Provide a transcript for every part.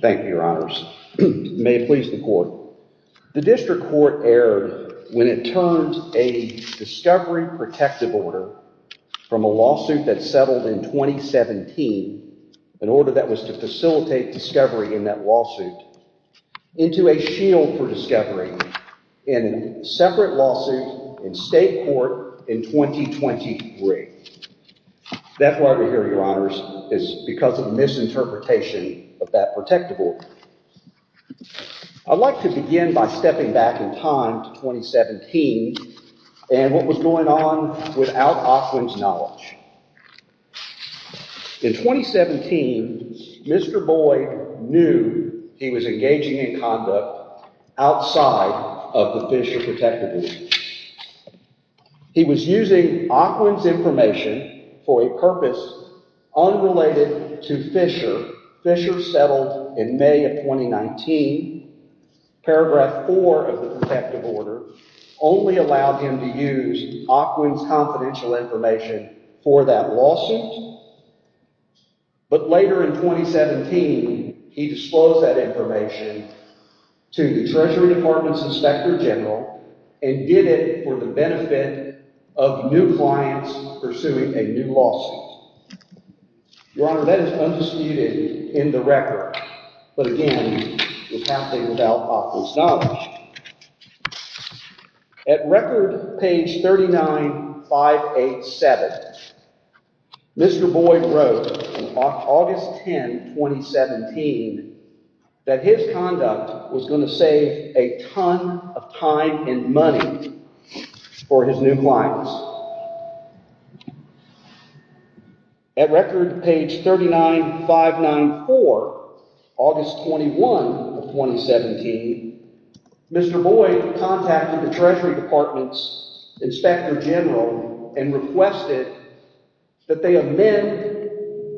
Thank you, Your Honors. May it please the Court. The District Court erred when it turned a discovery protective order from a lawsuit that settled in 2017, an order that was to facilitate discovery in that lawsuit, into a shield for discovery in a separate lawsuit in state court in 2023. That's why we're here, Your Honors, is because of misinterpretation of that protective order. I'd like to begin by stepping back in time to 2017 and what was going on without Ocwen's knowledge. In 2017, Mr. Boyd knew he was engaging in conduct outside of the Fisher protective order. He was using Ocwen's information for a purpose unrelated to Fisher. Fisher settled in May of 2019. Paragraph 4 of the protective order only allowed him to use Ocwen's confidential information for that lawsuit, but later in 2017, he disclosed that information to the Treasury Department's Inspector General and did it for the benefit of new clients pursuing a new lawsuit. Your Honor, that is undisputed in the record, but again, was happening without Ocwen's knowledge. At record page 39587, Mr. Boyd wrote on August 10, 2017, that his conduct was going to save a ton of time and money for his new clients. At record page 39594, August 21, 2017, Mr. Boyd contacted the Treasury Department's Inspector General and requested that they amend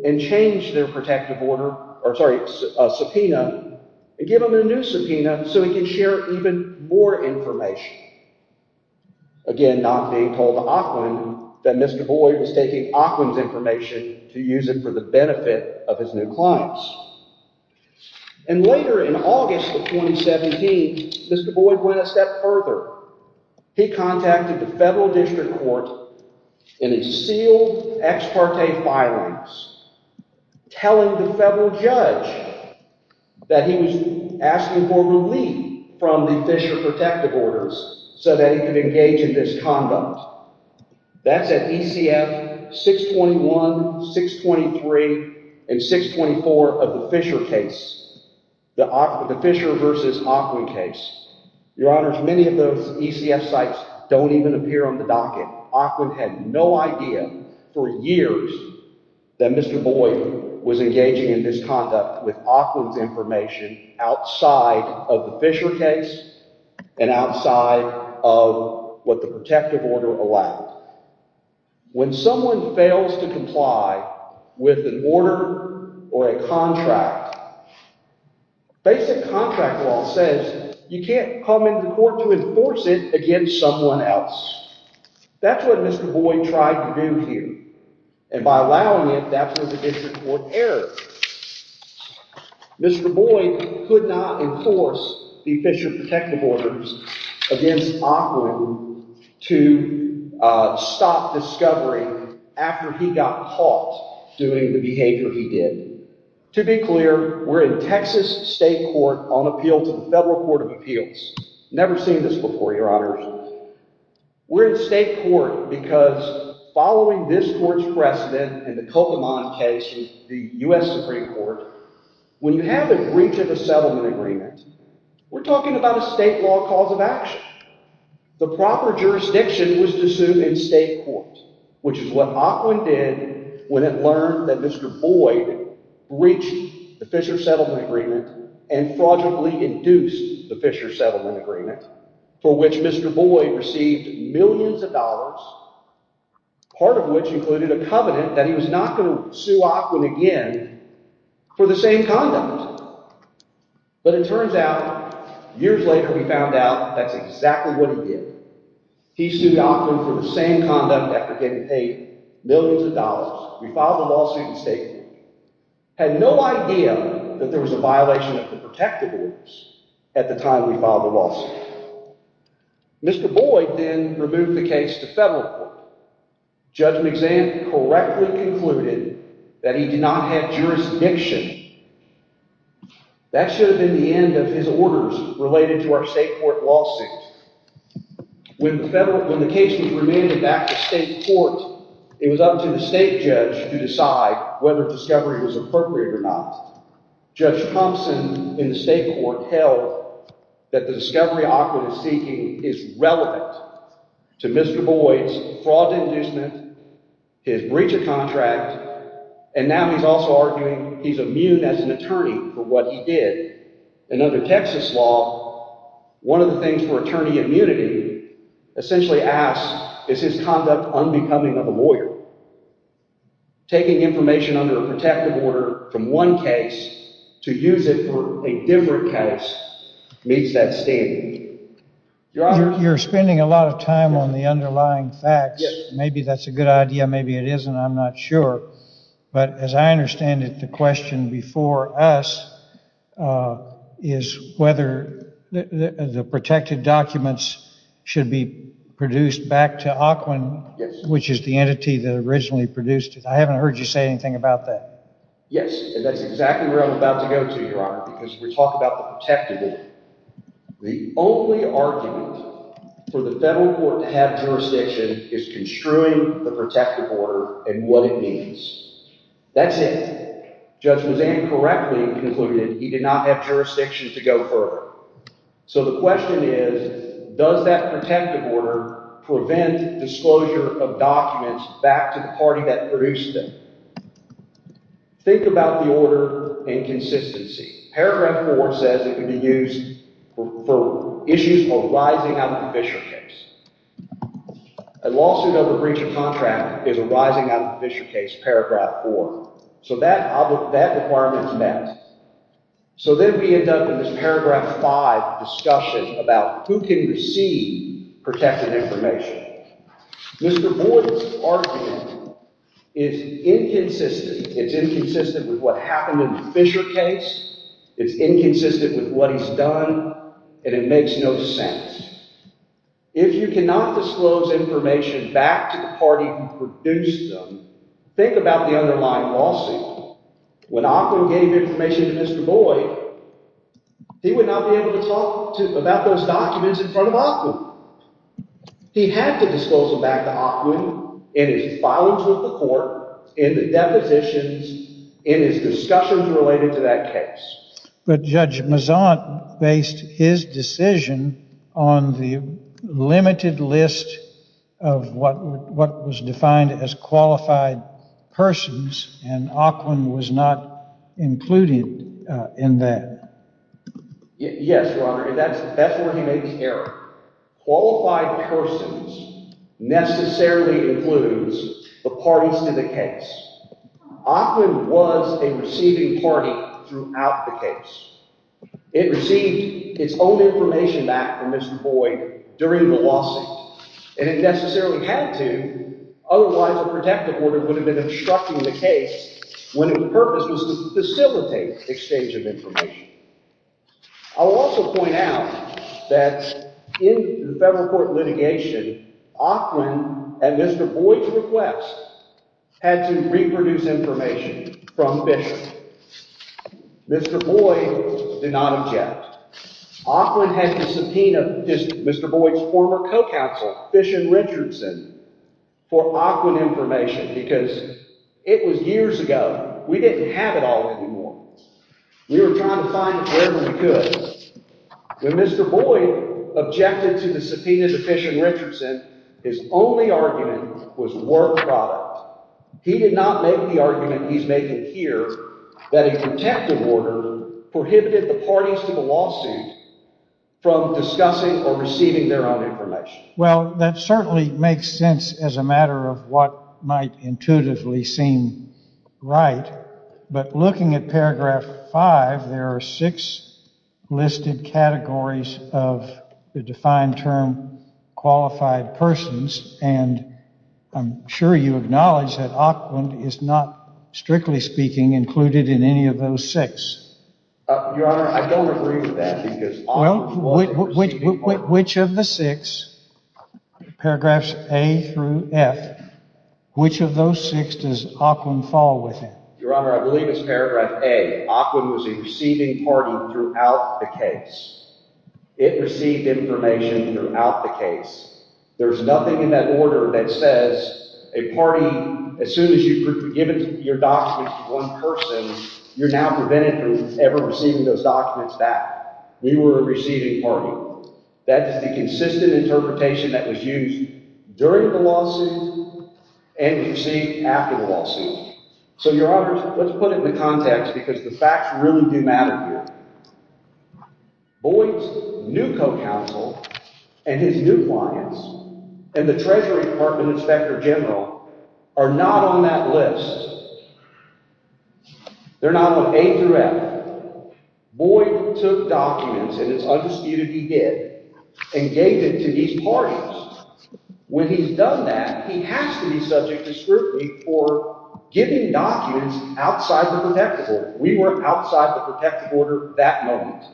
and change their protective order, or sorry, subpoena, and give him a new subpoena so he could share even more information. Again, not being told to Ocwen that Mr. Boyd was taking Ocwen's information to use it for the benefit of his new clients. And later in August of 2017, Mr. Boyd went a step further. He contacted the federal district court in his sealed ex parte filings, telling the federal judge that he was asking for relief from the Fisher protective orders so that he could engage in this conduct. That's at ECF 621, 623, and 624 of the Fisher case, the Fisher versus Ocwen case. Your Honors, many of those ECF sites don't even appear on the docket. Ocwen had no idea for years that Mr. Boyd was engaging in this conduct with Ocwen's information outside of the Fisher case and outside of what the protective order allowed. When someone fails to comply with an order or a contract, a basic contract law says you can't come into court to enforce it against someone else. That's what Mr. Boyd tried to do here. And by allowing it, that's what the district court erred. Mr. Boyd could not enforce the Fisher protective orders against Ocwen to stop discovery after he got caught doing the behavior he did. To be clear, we're in Texas state court on appeal to the federal court of appeals. Never seen this before, Your Honors. We're in state court because following this court's precedent in the Kokomon case, the U.S. Supreme Court, when you have a breach of a settlement agreement, we're talking about a state law cause of action. The proper jurisdiction was to sue in state court, which is what Ocwen did when it learned that Mr. Boyd breached the Fisher settlement agreement and fraudulently induced the Fisher settlement agreement for which Mr. Boyd received millions of dollars, part of which included a covenant that he was not going to sue Ocwen again for the same conduct. But it turns out, years later, we found out that's exactly what he did. He sued Ocwen for the same conduct after getting paid millions of dollars. We filed a lawsuit in state court. Had no idea that there was a violation of the protective orders at the time we filed the lawsuit. Mr. Boyd then removed the case to federal court. Judge McZahn correctly concluded that he did not have jurisdiction. That should have been the end of his orders related to our state court lawsuit. When the case was remanded back to state court, it was up to the state judge to decide whether discovery was appropriate or not. Judge Thompson in the state court held that the discovery Ocwen is seeking is relevant to Mr. Boyd's fraud inducement, his breach of contract, and now he's also arguing he's immune as an attorney for what he did. And under Texas law, one of the things for attorney immunity essentially asks is his conduct unbecoming of a lawyer. Taking information under a protective order from one case to use it for a different case meets that standard. Your Honor, you're spending a lot of time on the underlying facts. Maybe that's a good idea, maybe it isn't, I'm not sure. But as I understand it, the question before us is whether the protected documents should be produced back to Ocwen, which is the entity that originally produced it. I haven't heard you say anything about that. Yes, and that's exactly where I'm about to go to, Your Honor, because we're talking about the protective order. The only argument for the federal court to have jurisdiction is construing the protective order and what it means. That's it. Judge Lezan correctly concluded he did not have jurisdiction to go further. So the question is, does that protective order prevent disclosure of documents back to the party that produced them? Think about the order and consistency. Paragraph 4 says it could be used for issues arising out of the Fisher case. A lawsuit over breach of contract is arising out of the Fisher case, paragraph 4. So that requirement is met. So then we end up in this paragraph 5 discussion about who can receive protected information. Mr. Boyden's argument is inconsistent. It's inconsistent with what happened in the Fisher case, it's inconsistent with what he's done, and it makes no sense. If you cannot disclose information back to the party who produced them, think about the underlying lawsuit. When Ocwen gave information to Mr. Boyden, he would not be able to talk about those documents in front of Ocwen. He had to disclose them back to Ocwen in his filings with the court, in the depositions, in his discussions related to that case. But Judge Mazant based his decision on the limited list of what was defined as qualified persons, and Ocwen was not included in that. Yes, Your Honor, and that's where he made the error. Qualified persons necessarily includes the parties to the case. Ocwen was a receiving party throughout the case. It received its own information back from Mr. Boyden during the lawsuit, and it necessarily had to, otherwise a protective order would have been obstructing the case when its purpose was to facilitate exchange of information. I'll also point out that in the federal court litigation, Ocwen, at Mr. Boyden's request, had to reproduce information from Fisher. Mr. Boyden did not object. Ocwen had to subpoena Mr. Boyden's former co-counsel, Fishin Richardson, for Ocwen information because it was years ago. We didn't have it all anymore. We were trying to find it wherever we could. When Mr. Boyden objected to the subpoena to Fishin Richardson, his only argument was work product. He did not make the argument he's making here that a protective order prohibited the parties to the lawsuit from discussing or receiving their own information. Well, that certainly makes sense as a matter of what might intuitively seem right, but looking at paragraph five, there are six listed categories of the defined term qualified persons, and I'm sure you acknowledge that Ocwen is not, strictly speaking, included in any of those six. Your Honor, I don't agree with that because Ocwen was one of the receiving parties. Which of the six, paragraphs A through F, which of those six does Ocwen fall within? Your Honor, I believe it's paragraph A. Ocwen was a receiving party throughout the case. It received information throughout the case. There's nothing in that order that says a party, as soon as you've given your documents to one person, you're now prevented from ever receiving those documents back. We were a receiving party. That is the consistent interpretation that was used during the lawsuit and received after the lawsuit. So, Your Honor, let's put it in the context because the facts really do matter here. Boyd's new co-counsel and his new clients and the Treasury Department Inspector General are not on that list. They're not on A through F. Boyd took documents, and it's undisputed he did, and gave it to these parties. When he's done that, he has to be subject to scrutiny for giving documents outside the protective order. We were outside the protective order that moment.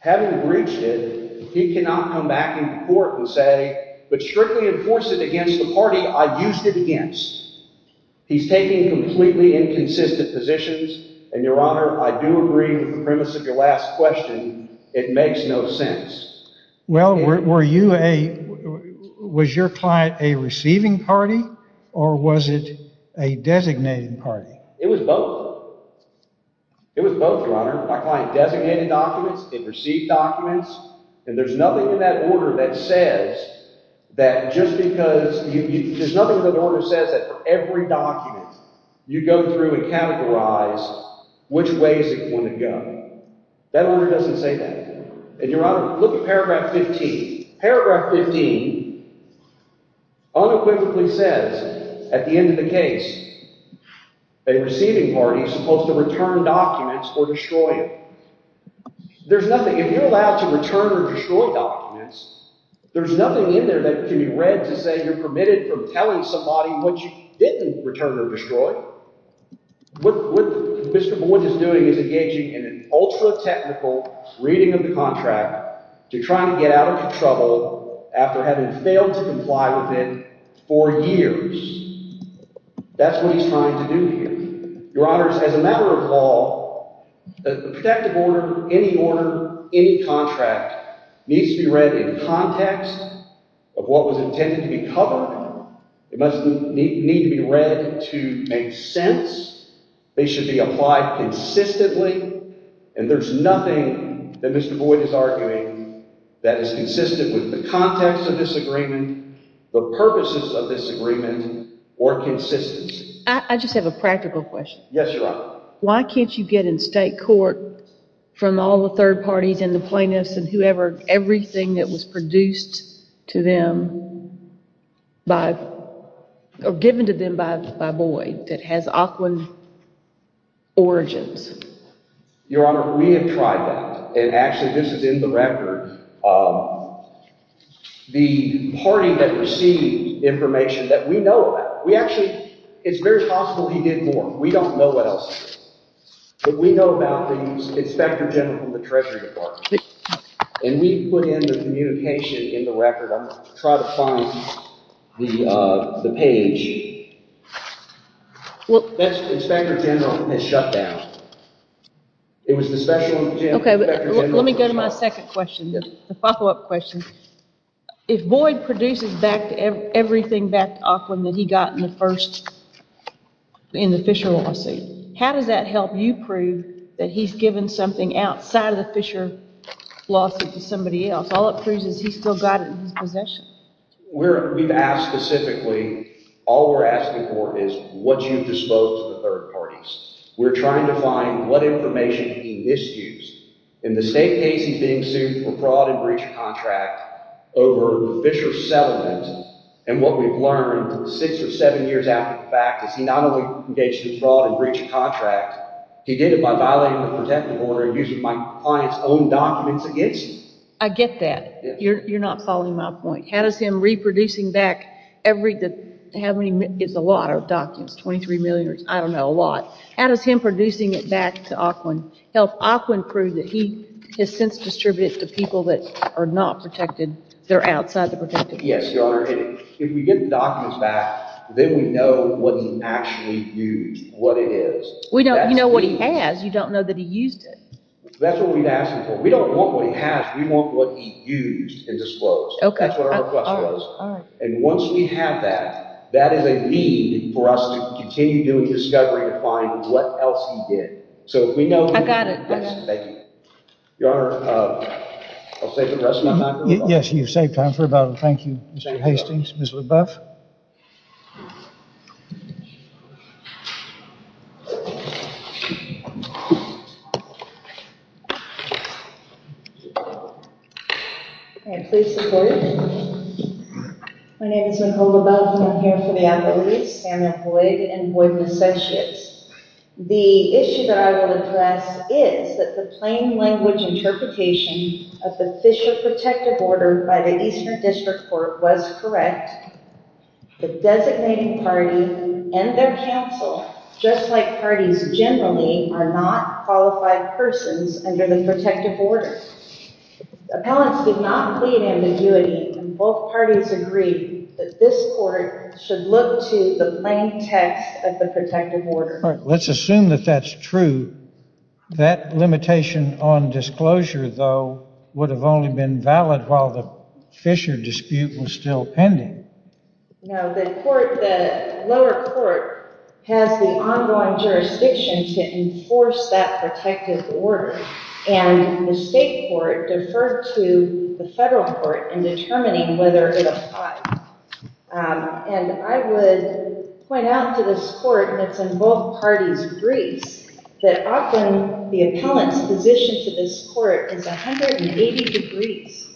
Having breached it, he cannot come back in court and say, but strictly enforce it against the party I used it against. He's taking completely inconsistent positions, and Your Honor, I do agree with the premise of your last question. It makes no sense. Well, was your client a receiving party, or was it a designated party? It was both. It was both, Your Honor. My client designated documents, it received documents, and there's nothing in that order that says that just because there's nothing in that order that says that for every document you go through and categorize which ways it wouldn't go. That order doesn't say that. And Your Honor, look at paragraph 15. Paragraph 15 unequivocally says at the end of the case, a receiving party is supposed to return documents or destroy them. There's nothing. If you're allowed to return or destroy documents, there's nothing in there that can be read to say you're permitted from telling somebody what you didn't return or destroy. What Mr. Boyd is doing is engaging in an ultra-technical reading of the contract to try to get out of trouble after having failed to comply with it for years. That's what he's trying to do here. Your Honor, as a matter of law, the protective order, any order, any contract needs to be read in context of what was intended to be covered. It must need to be read to make sense. They should be applied consistently, and there's nothing that Mr. Boyd is arguing that is consistent with the context of this agreement, the purposes of this agreement, or consistency. I just have a practical question. Yes, Your Honor. Why can't you get in state court, from all the third parties and the plaintiffs and whoever, everything that was produced to them by, or given to them by Boyd that has Aquan origins? Your Honor, we have tried that, and actually this is in the record. The party that received information that we know about, we actually, it's very possible he did more. We don't know what else, but we know about the inspector general from the treasury department, and we put in the communication in the record. I'm going to try to find the page. Well, that's inspector general has shut down. It was the special. Okay, let me go to my second question, the follow-up question. If Boyd produces back everything back to Aquan that he got in the Fisher lawsuit, how does that help you prove that he's given something outside of the Fisher lawsuit to somebody else? All it proves is he's still got it in his possession. We've asked specifically, all we're asking for is what you've disposed to the third parties. We're trying to find what information he misused in the state case he's being sued for fraud and breach of contract over the Fisher settlement, and what we've learned six or seven years after the fact is he not only engaged in fraud and breach of contract, he did it by violating the protective order and using my client's own documents against him. I get that. You're not following my point. How does him reproducing back every, how many, it's a lot of documents, 23 million, I don't know, a lot. How does him producing it back to Aquan help Aquan prove that he has since distributed it to people that are not protected, they're outside the protective order? Yes, Your Honor, if we get the documents back, then we know what he actually used, what it is. We don't, you know what he has, you don't know that he used it. That's what we've asked him for. We don't want what he has, we want what he used and disclosed. Okay. That's what our request was. And once we have that, that is a need for us to continue doing discovery to find what else he did. So if we know. I got it. Yes, thank you. Your Honor, I'll save the rest of my time. Yes, you've saved time for about, thank you, Mr. Hastings, Ms. Leboeuf. Okay, please support it. My name is Nicole Leboeuf and I'm here for the appellees, and void and void necessities. The issue that I will address is that the plain language interpretation of the Fisher protective order by the Eastern District Court was correct. The designating party and their counsel, just like parties generally are not qualified persons under the protective order. Appellants did not plead ambiguity and both parties agree that this court should look to the plain text of the protective order. Let's assume that that's true. That limitation on disclosure, though, would have only been valid while the Fisher dispute was still pending. No, the lower court has the ongoing jurisdiction to enforce that protective order and the state court deferred to the federal court in determining whether it ought. And I would point out to this court that's in both parties' briefs that often the appellant's position to this court is 180 degrees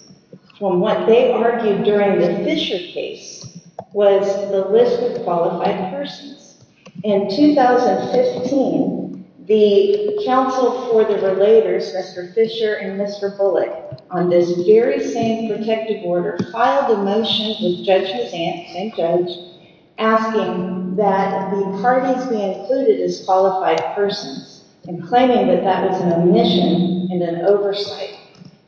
from what they argued during the Fisher case was the list of qualified persons. In 2015, the counsel for the relators, Mr. Fisher and Mr. Bullock, on this very same protective order filed a motion with Judge Hussant, same judge, asking that the parties be included as qualified persons and claiming that that was an omission and an oversight.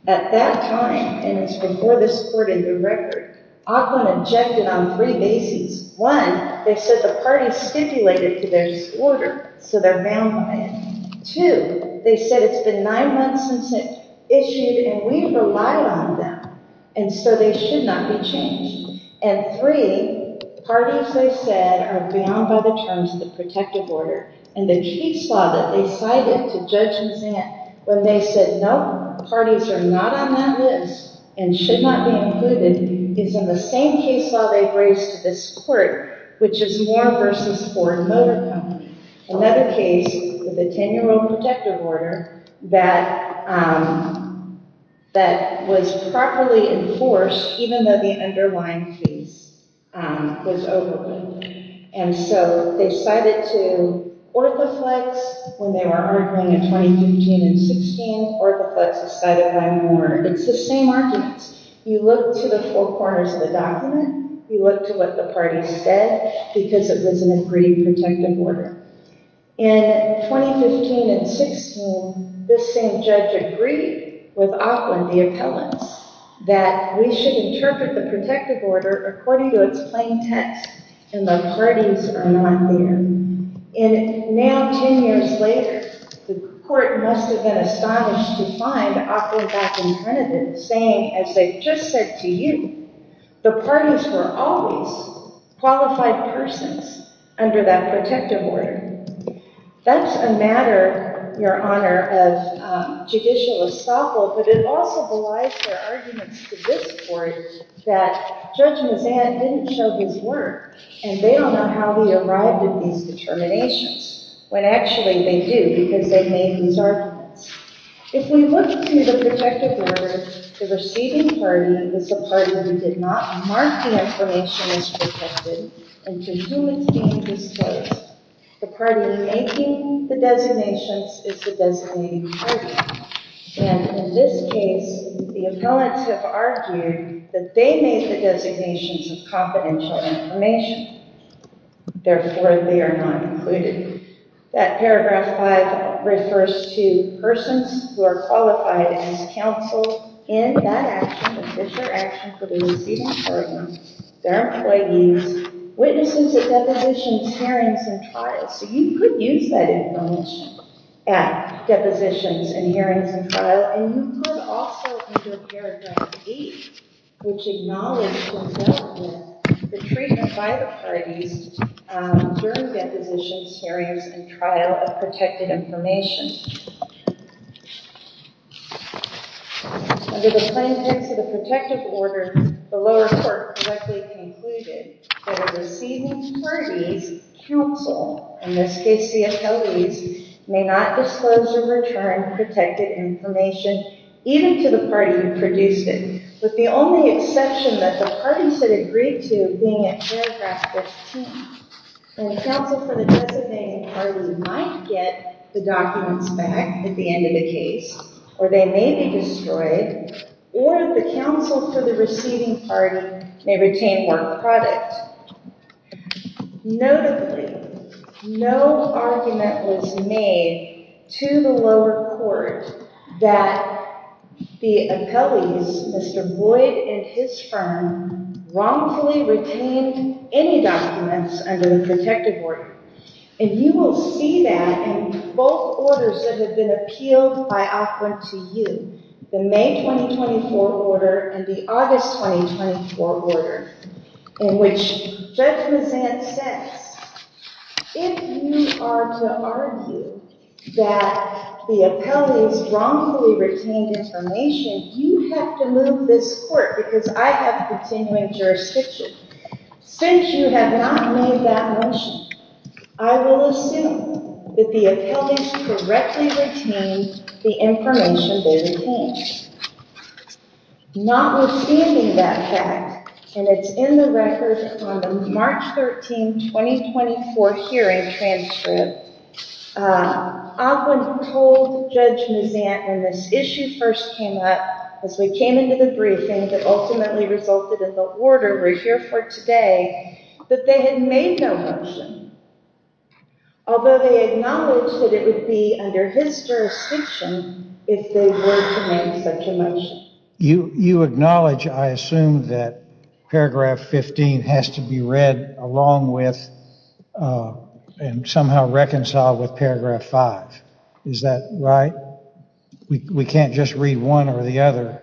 At that time, and it's before this court in the record, Appellant objected on three bases. One, they said the party stipulated to this order so they're bound by it. Two, they said it's been nine months since it issued and we relied on them and so they should not be changed. And three, parties, they said, are bound by the terms of the protective order and the case law that they cited to Judge Hussant when they said no, parties are not on that list and should not be included is in the same case law they've raised to this court, which is Moore v. Ford Motor Company, another case with a 10-year-old protective order that was properly enforced even though the underlying case was overruled. And so they cited to Orthoflex when they were arguing in 2015 and 16, Orthoflex was cited by Moore. It's the same arguments. You look to the four cases in the protective order. In 2015 and 16, this same judge agreed with Auckland, the appellants, that we should interpret the protective order according to its plain text and the parties are not there. And now 10 years later, the court must have been astonished to find Auckland back in front of it saying, as they just said to you, the parties were always qualified persons under that protective order. That's a matter, Your Honour, of judicial estoppel, but it also belies their arguments to this court that Judge Mazzan didn't show his work and they don't know how he arrived at these determinations when actually they do because they made these arguments. If we look to the protective order, the receiving party is the party who did not mark the information as protected and to whom it's being disclosed. The party making the designations is the designating party. And in this case, the appellants have argued that they made the designations of confidential information, therefore they are not included. That paragraph 5 refers to persons who are qualified as counsel in that action, the Fisher action for the receiving party, their employees, witnesses at depositions, hearings and trials. So you could use that information at depositions and hearings and trial and you could also, under paragraph 8, which acknowledges the treatment by the parties during depositions, hearings and trial of protected information. Under the plaintiffs of the protective order, the lower court correctly concluded that a receiving party's counsel, in this case the appellees, may not disclose or return protected information even to the party who produced it, with the only exception that the parties that agreed to being at paragraph 15. And the counsel for the designating party might get the documents back at the end of the case or they may be destroyed or the counsel for the receiving party may retain work product. Notably, no argument was made to the lower court that the appellees, Mr. Boyd and his firm, wrongfully retained any documents under the protective order. And you will see that in both orders that have been appealed by Oakland to you, the May 2024 order and the August 2024 order, in which Judge Mazzant says, if you are to argue that the appellees wrongfully retained information, you have to move this court because I have continuing jurisdiction. Since you have not made that motion, I will assume that the appellees correctly retained the information they retained. Notwithstanding that fact, and it's in the record on the March 13, 2024 hearing transcript, I've been told Judge Mazzant, when this issue first came up, as we came into the briefing, that ultimately resulted in the order we're here for today, that they had made no motion. Although they acknowledged that it would be under his jurisdiction if they were to make such a motion. You acknowledge, I assume, that paragraph 15 has to be read along with and somehow reconciled with paragraph 5. Is that right? We can't just read one or the other.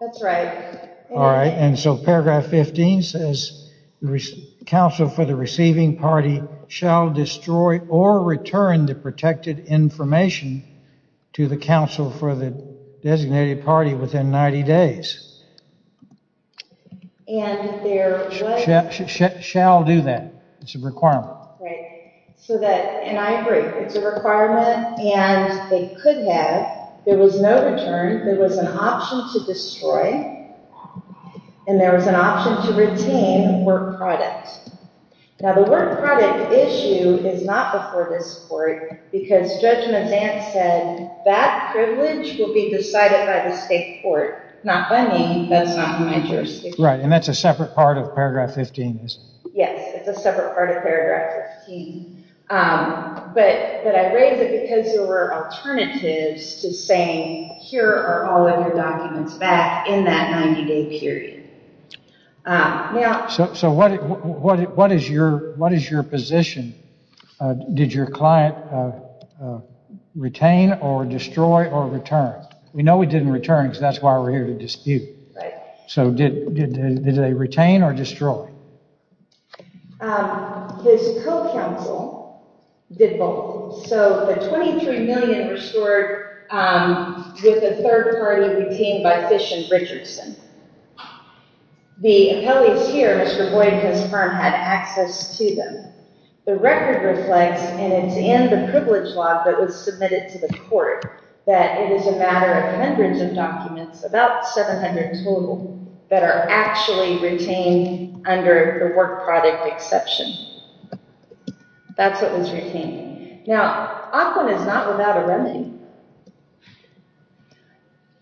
That's right. All right, and so paragraph 15 says, the counsel for the receiving party shall destroy or return the protected information to the counsel for the designated party within 90 days. Shall do that. It's a requirement. Right, so that, and I agree, it's a requirement and they could have. There was no return. There was an option to destroy and there was an option to retain work product. Now the work product issue is not before this court because Judge Mazzant said that privilege will be decided by the state court, not by me. That's not my jurisdiction. Right, and that's a separate part of paragraph 15. Yes, it's a separate part of paragraph 15, but I raise it because there were alternatives to saying here are all of your documents back in that 90-day period. So what is your position? Did your client retain or destroy or return? We know we didn't return because that's why we're here to dispute. Right. So did they retain or destroy? His co-counsel did both. So the 23 million were stored with a third party retained by Fish and Richardson. The appellees here, Mr. Boyd and his firm, had access to them. The record reflects, and it's in the privilege law that was submitted to the court, that it is a matter of hundreds of documents, about 700 total, that are actually retained under the work product exception. That's what was retained. Now, Auckland is not without a remedy,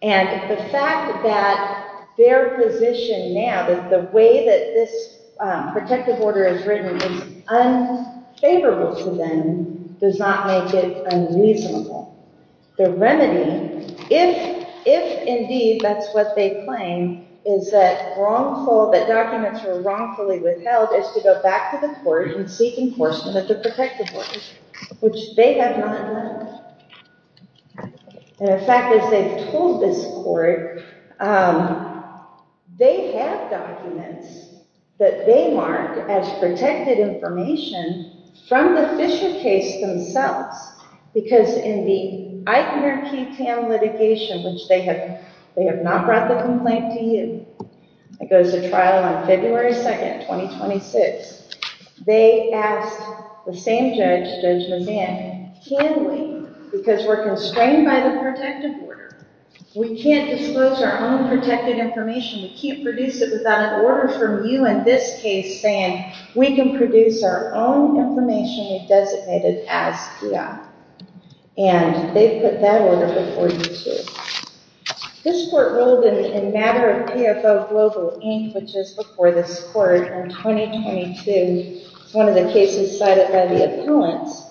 and the fact that their position now, that the way that this protective order is written is unfavorable to them, does not make it unreasonable. The remedy, if indeed that's what they claim, is that wrongful, that documents were wrongfully withheld is to go back to the court and seek enforcement of the protective order, which they have not done. And in fact, as they've told this court, they have documents that they marked as protected information from the Fisher case themselves, because in the ICARE-QPAN litigation, which they have not brought the complaint to you, it goes to trial on February 2nd, 2026, they asked the same judge, Judge Mazan, can we, because we're constrained by the protective order, we can't disclose our own protected information, we can't produce it without an order from you in this case saying we can produce our own information we've designated as EI, and they've put that order before you too. This court ruled in matter of PFO Global Inc., which is before this court in 2022, one of the cases cited by the appellants,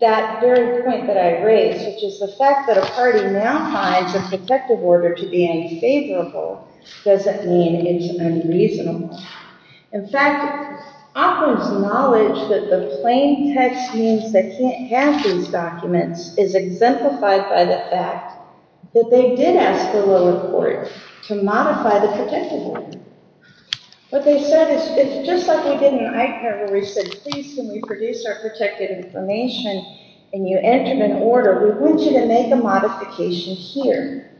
that very point that I raised, which is the fact that a party now finds a protective order to be unfavorable, doesn't mean it's unreasonable. In fact, operant's knowledge that the plain text means they can't have these documents is exemplified by the fact that they did ask the lower court to modify the protective order. What they said is, it's just like we did in ICARE where we said, please can we produce our protected information and you entered an order, we want you to make a modification here.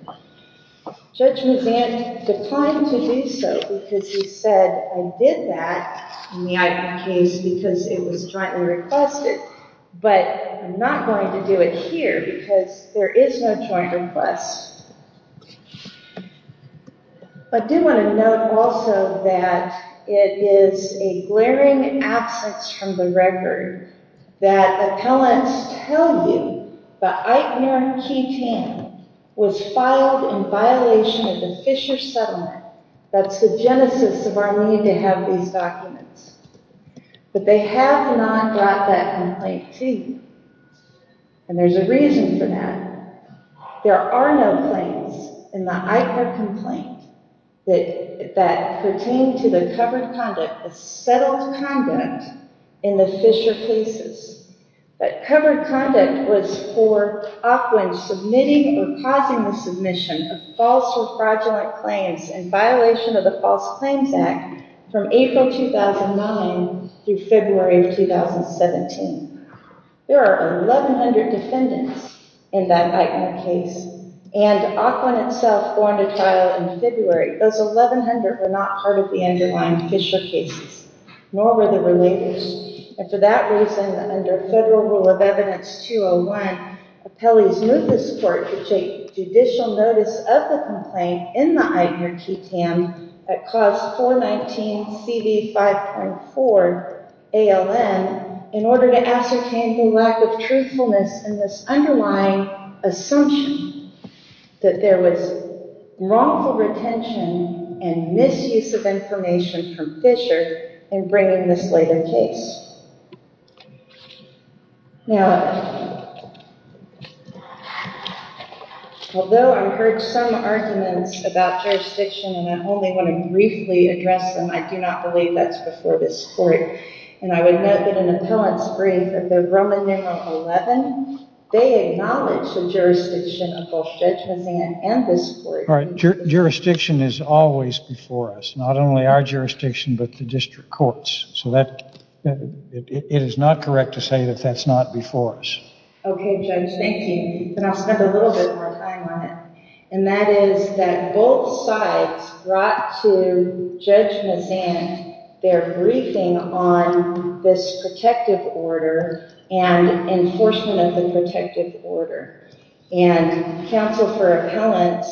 Judge Muzan declined to do so because he said, I did that in the ICARE case because it was jointly requested, but I'm not going to do it here because there is no joint request. I do want to note also that it is a glaring absence from the record that appellants tell you the ICARE key 10 was filed in violation of the Fisher settlement. That's the genesis of our need to have these documents. But they have not brought that complaint to you. And there's a reason for that. There are no claims in the ICARE complaint that pertain to the covered conduct, the settled conduct in the Fisher cases. That covered conduct was for Ockwin submitting or causing the submission of false or fraudulent claims in violation of the False Claims Act from April 2009 through February of 2017. There are 1,100 defendants in that ICARE case and Ockwin itself formed a trial in February. Those 1,100 were not part of the underlying Fisher cases, nor were the relators. And for that reason, under Federal Rule of Evidence 201, appellees moved this court to take judicial notice of the complaint in the ICARE key 10 at Clause 419 CD 5.4 ALN in order to ascertain the lack of truthfulness in this underlying assumption that there was wrongful retention and misuse of information from Fisher in bringing this later case. Now, although I've heard some arguments about jurisdiction and I only want to briefly address them, I do not believe that's before this court. And I would note that in an appellant's brief at the Roman numeral 11, they acknowledge the jurisdiction of both Judge Mazzan and this court. Jurisdiction is always before us. Not only our jurisdiction, but the district courts. So it is not correct to say that that's not before us. Okay, Judge. Thank you. And I'll spend a little bit more time on it. And that is that both sides brought to Judge Mazzan their briefing on this protective order and enforcement of the protective order. And counsel for appellants,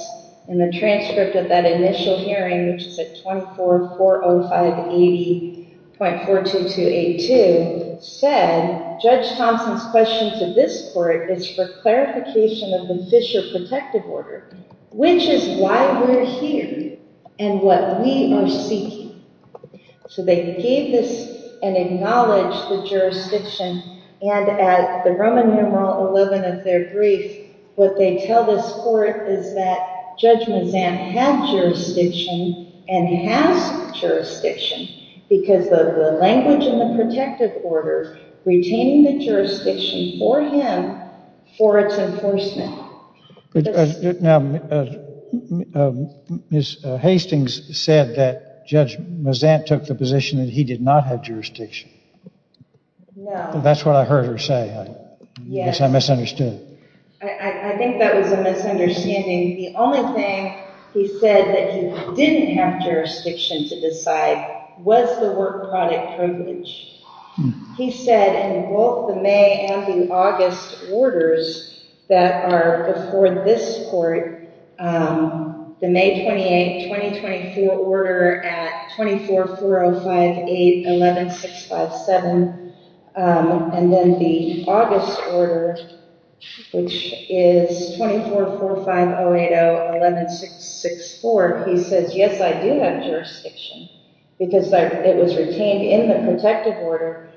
in the transcript of that initial hearing, which is at 2440580.42282, said Judge Thompson's question to this court is for clarification of the Fisher protective order, which is why we're here and what we are seeking. So they gave this and acknowledged the jurisdiction. And at the Roman numeral 11 of their brief, what they tell this court is that Judge Mazzan had jurisdiction and has jurisdiction because of the language in the protective order retaining the jurisdiction for him for its enforcement. Now, Ms. Hastings said that Judge Mazzan took the position that he did not have jurisdiction. No. That's what I heard her say. I guess I misunderstood. I think that was a misunderstanding. The only thing he said that he didn't have jurisdiction to decide was the work product privilege. He said in both the May and the August orders that are before this court, the May 28, 2024 order at 24405811657, and then the August order, which is 244508011664, he says, yes, I do have jurisdiction because it was retained in the protective order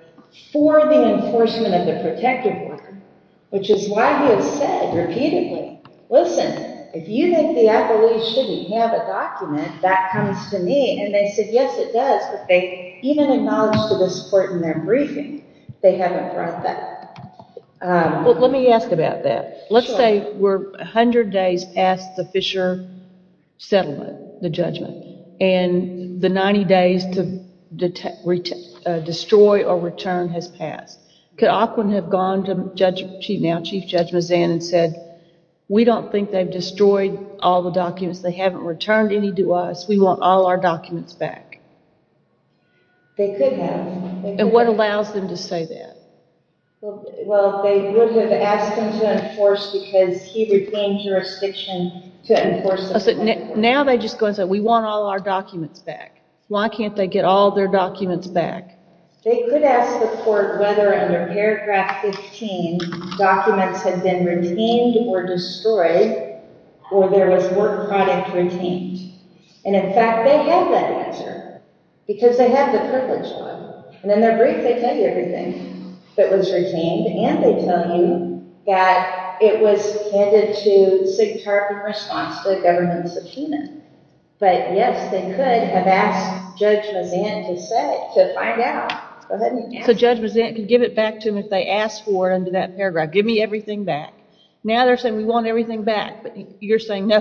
for the enforcement of the protective order, which is why he has said repeatedly, listen, if you think the appellee shouldn't have a document, that comes to me. And they said, yes, it does. But they even acknowledged to this court in their briefing they haven't brought that. Well, let me ask about that. Let's say we're 100 days past the Fisher settlement, the judgment, and the 90 days to destroy or return has passed. Could Aquin have gone to Chief Judge Mazzan and said, we don't think they've destroyed all the documents. They haven't returned any to us. We want all our documents back. They could have. And what allows them to say that? Well, they would have asked him to enforce because he retained jurisdiction to enforce the protective order. Now they just go and say, we want all our documents back. Why can't they get all their documents back? They could ask the court whether under paragraph 15 documents had been retained or destroyed, or there was work product retained. And in fact, they have that answer because they have the privilege law. And in their brief, they tell you everything that was retained. And they tell you that it was handed to SIGCHR in response to a government subpoena. But yes, they could have asked Judge Mazzan to say, to find out. So Judge Mazzan could give it back to him if they asked for it under that paragraph, give me everything back. Now they're saying, we want everything back. But you're saying, no,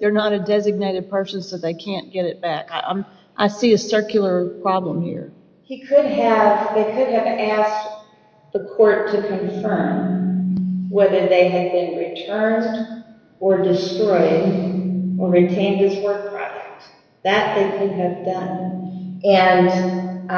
they're not a designated person, so they can't get it back. I see a circular problem here. He could have, they could have asked the court to confirm whether they had been returned or destroyed, or retained his work product. That they could have done. And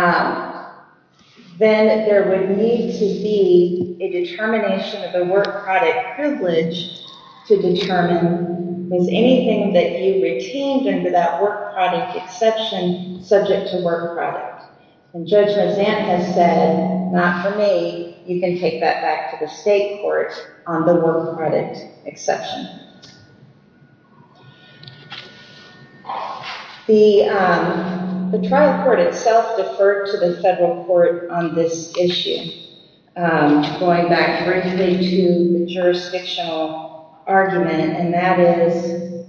then there would need to be a determination of the work product privilege to determine, is anything that you retained under that work product exception subject to work product? And Judge Mazzan has said, not for me. You can take that back to the state court on the work product exception. The trial court itself deferred to the federal court on this issue. Going back directly to the jurisdictional argument. And that is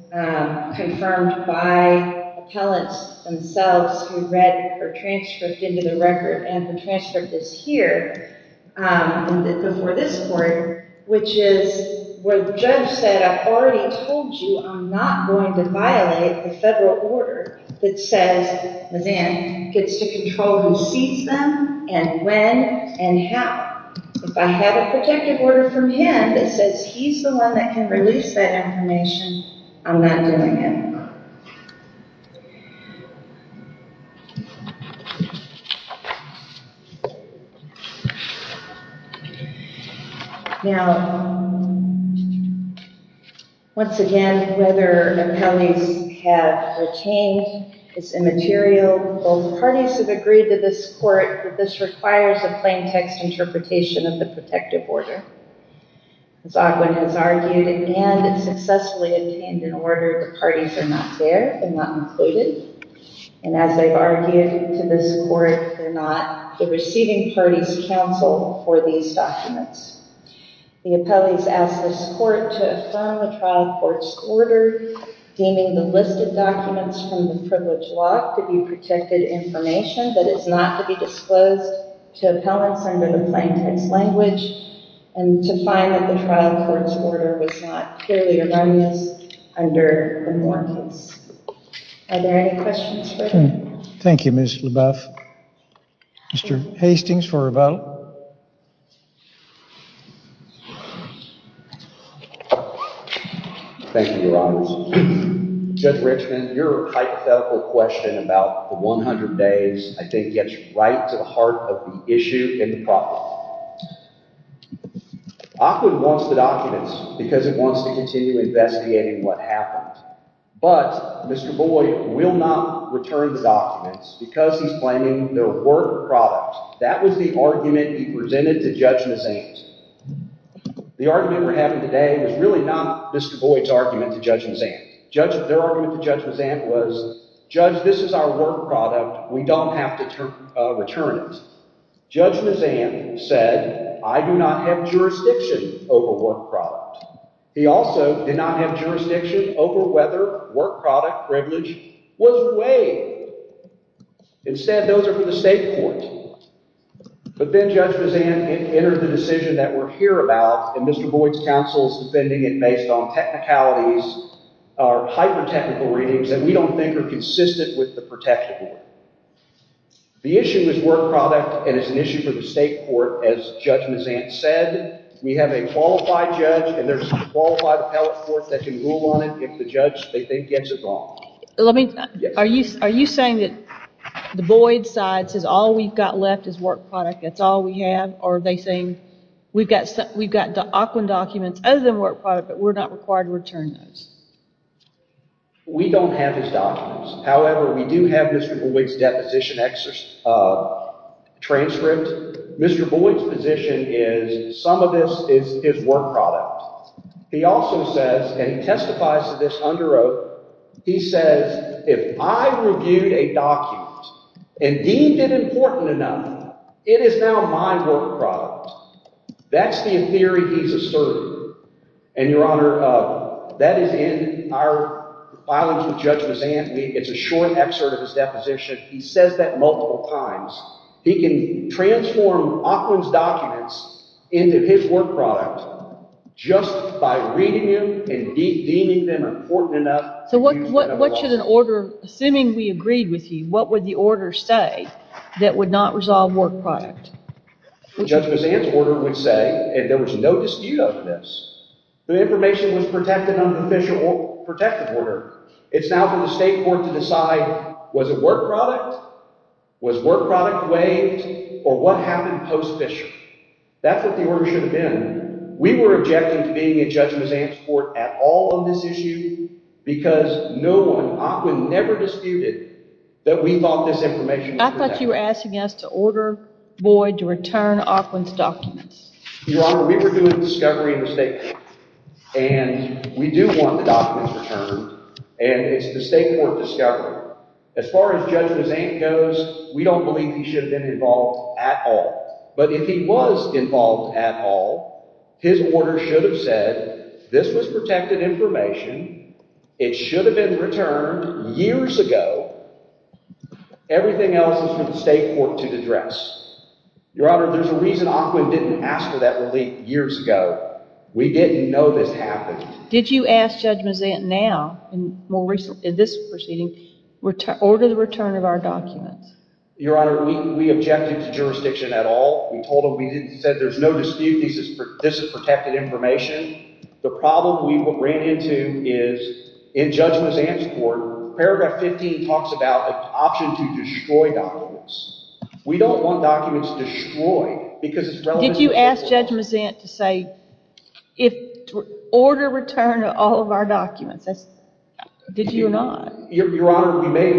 confirmed by appellants themselves who read her transcript into the record. And the transcript is here, before this court, which is where the judge said, I've already told you, I'm not going to violate the federal order that says Mazzan gets to control who sees them and when and how. If I have a protective order from him that says he's the one that can release that information, I'm not doing it. Now, once again, whether appellees have retained his immaterial, both parties have agreed to this court that this requires a plain text interpretation of the protective order. As Ogwin has argued, and it's successfully obtained in order, the parties are not there and not included. And as they've argued to this court, they're not. The receiving parties counsel for these documents. The appellees ask this court to affirm the trial court's order, deeming the listed documents from the privilege lock to be protected information that is not to be disclosed to appellants under the plain text language and to find that the trial court's order was not purely erroneous under the Moore case. Are there any questions? Thank you, Ms. LaBeouf. Mr. Hastings for a vote. Thank you, Your Honors. Judge Richman, your hypothetical question about the 100 days I think gets right to the heart of the issue and the problem. Ogwin wants the documents because he wants to continue investigating what happened. But Mr. Boyd will not return the documents because he's claiming they're work products. That was the argument he presented to Judge Mazzant. The argument we're having today was really not Mr. Boyd's argument to Judge Mazzant. Their argument to Judge Mazzant was, Judge, this is our work product. We don't have to return it. Judge Mazzant said, I do not have jurisdiction over work product. He also did not have jurisdiction over whether work product privilege was waived. Instead, those are for the state court. But then Judge Mazzant entered the decision that we're here about, and Mr. Boyd's counsel is defending it based on technicalities or hyper-technical readings that we don't think are consistent with the protected one. The issue is work product, and it's an issue for the state court. As Judge Mazzant said, we have a qualified judge, and there's a qualified appellate court that can rule on it if the judge gets it wrong. Are you saying that the Boyd side says all we've got left is work product, that's all we have? Or are they saying we've got the Ogwin documents other than work product, but we're not required to return those? We don't have his documents. However, we do have Mr. Boyd's deposition transcript. Mr. Boyd's position is some of this is work product. He also says, and he testifies to this under oath, he says, if I reviewed a document and deemed it important enough, it is now my work product. That's the theory he's asserting. And, Your Honor, that is in our filings with Judge Mazzant. It's a short excerpt of his deposition. He says that multiple times. He can transform Ogwin's documents into his work product just by reading them and deeming them important enough. So what should an order, assuming we agreed with you, what would the order say that would not resolve work product? Judge Mazzant's order would say, and there was no dispute over this, the information was protected under an official protective order. It's now for the state court to decide, was it work product? Was work product waived? Or what happened post-Fisher? That's what the order should have been. We were objecting to being in Judge Mazzant's court at all on this issue because no one, Ogwin, never disputed that we thought this information was protected. I thought you were asking us to order Boyd to return Ogwin's documents. Your Honor, we were doing discovery in the state court, and we do want the documents returned, and it's the state court discovery. As far as Judge Mazzant goes, we don't believe he should have been involved at all. But if he was involved at all, his order should have said, this was protected information. It should have been returned years ago. Everything else is for the state court to address. Your Honor, there's a reason Ogwin didn't ask for that relief years ago. We didn't know this happened. Did you ask Judge Mazzant now, in this proceeding, order the return of our documents? Your Honor, we objected to jurisdiction at all. We told him we said there's no dispute this is protected information. The problem we ran into is in Judge Mazzant's court, paragraph 15 talks about an option to destroy documents. We don't want documents destroyed because it's relevant to the court. Did you ask Judge Mazzant to say, order return of all of our documents? Did you or not? Your Honor, we may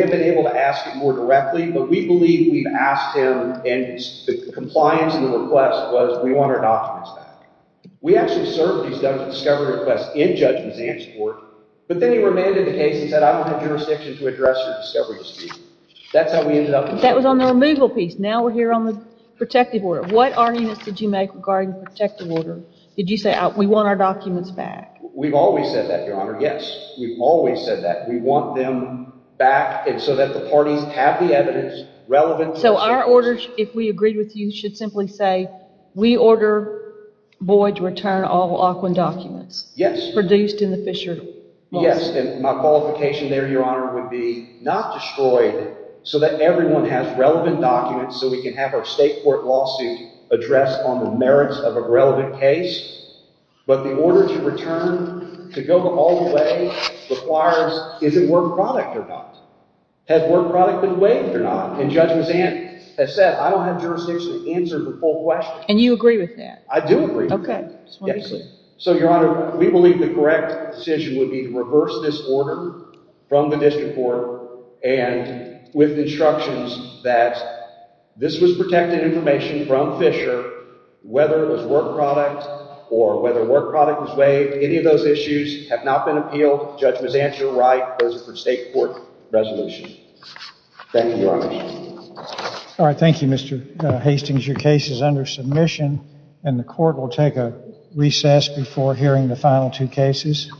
have been able to ask him more directly, but we believe we've asked him, and the compliance of the request was we want our documents back. We actually served these discovery requests in Judge Mazzant's court, but then he remanded the case and said I don't have jurisdiction to address your discovery dispute. That's how we ended up in court. That was on the removal piece. Now we're here on the protective order. What arguments did you make regarding the protective order? Did you say we want our documents back? We've always said that, Your Honor, yes. We've always said that. We want them back so that the parties have the evidence relevant to the case. So our order, if we agree with you, should simply say we order Boyd to return all Aquin documents? Yes. Produced in the Fisher Lawsuit. Yes, and my qualification there, Your Honor, would be not destroyed so that everyone has relevant documents so we can have our state court lawsuit addressed on the merits of a relevant case, but the order to return to go all the way requires is it work product or not? Has work product been waived or not? And Judge Mazzant has said I don't have jurisdiction to answer the full question. And you agree with that? I do agree with that. Okay. So, Your Honor, we believe the correct decision would be to reverse this order from the district court and with instructions that this was protected information from Fisher, whether it was work product or whether work product was waived. Any of those issues have not been appealed. Judge Mazzant, you're right. Those are for state court resolution. Thank you, Your Honor. All right. Thank you, Mr. Hastings. Your case is under submission, and the court will take a recess before hearing the final two cases.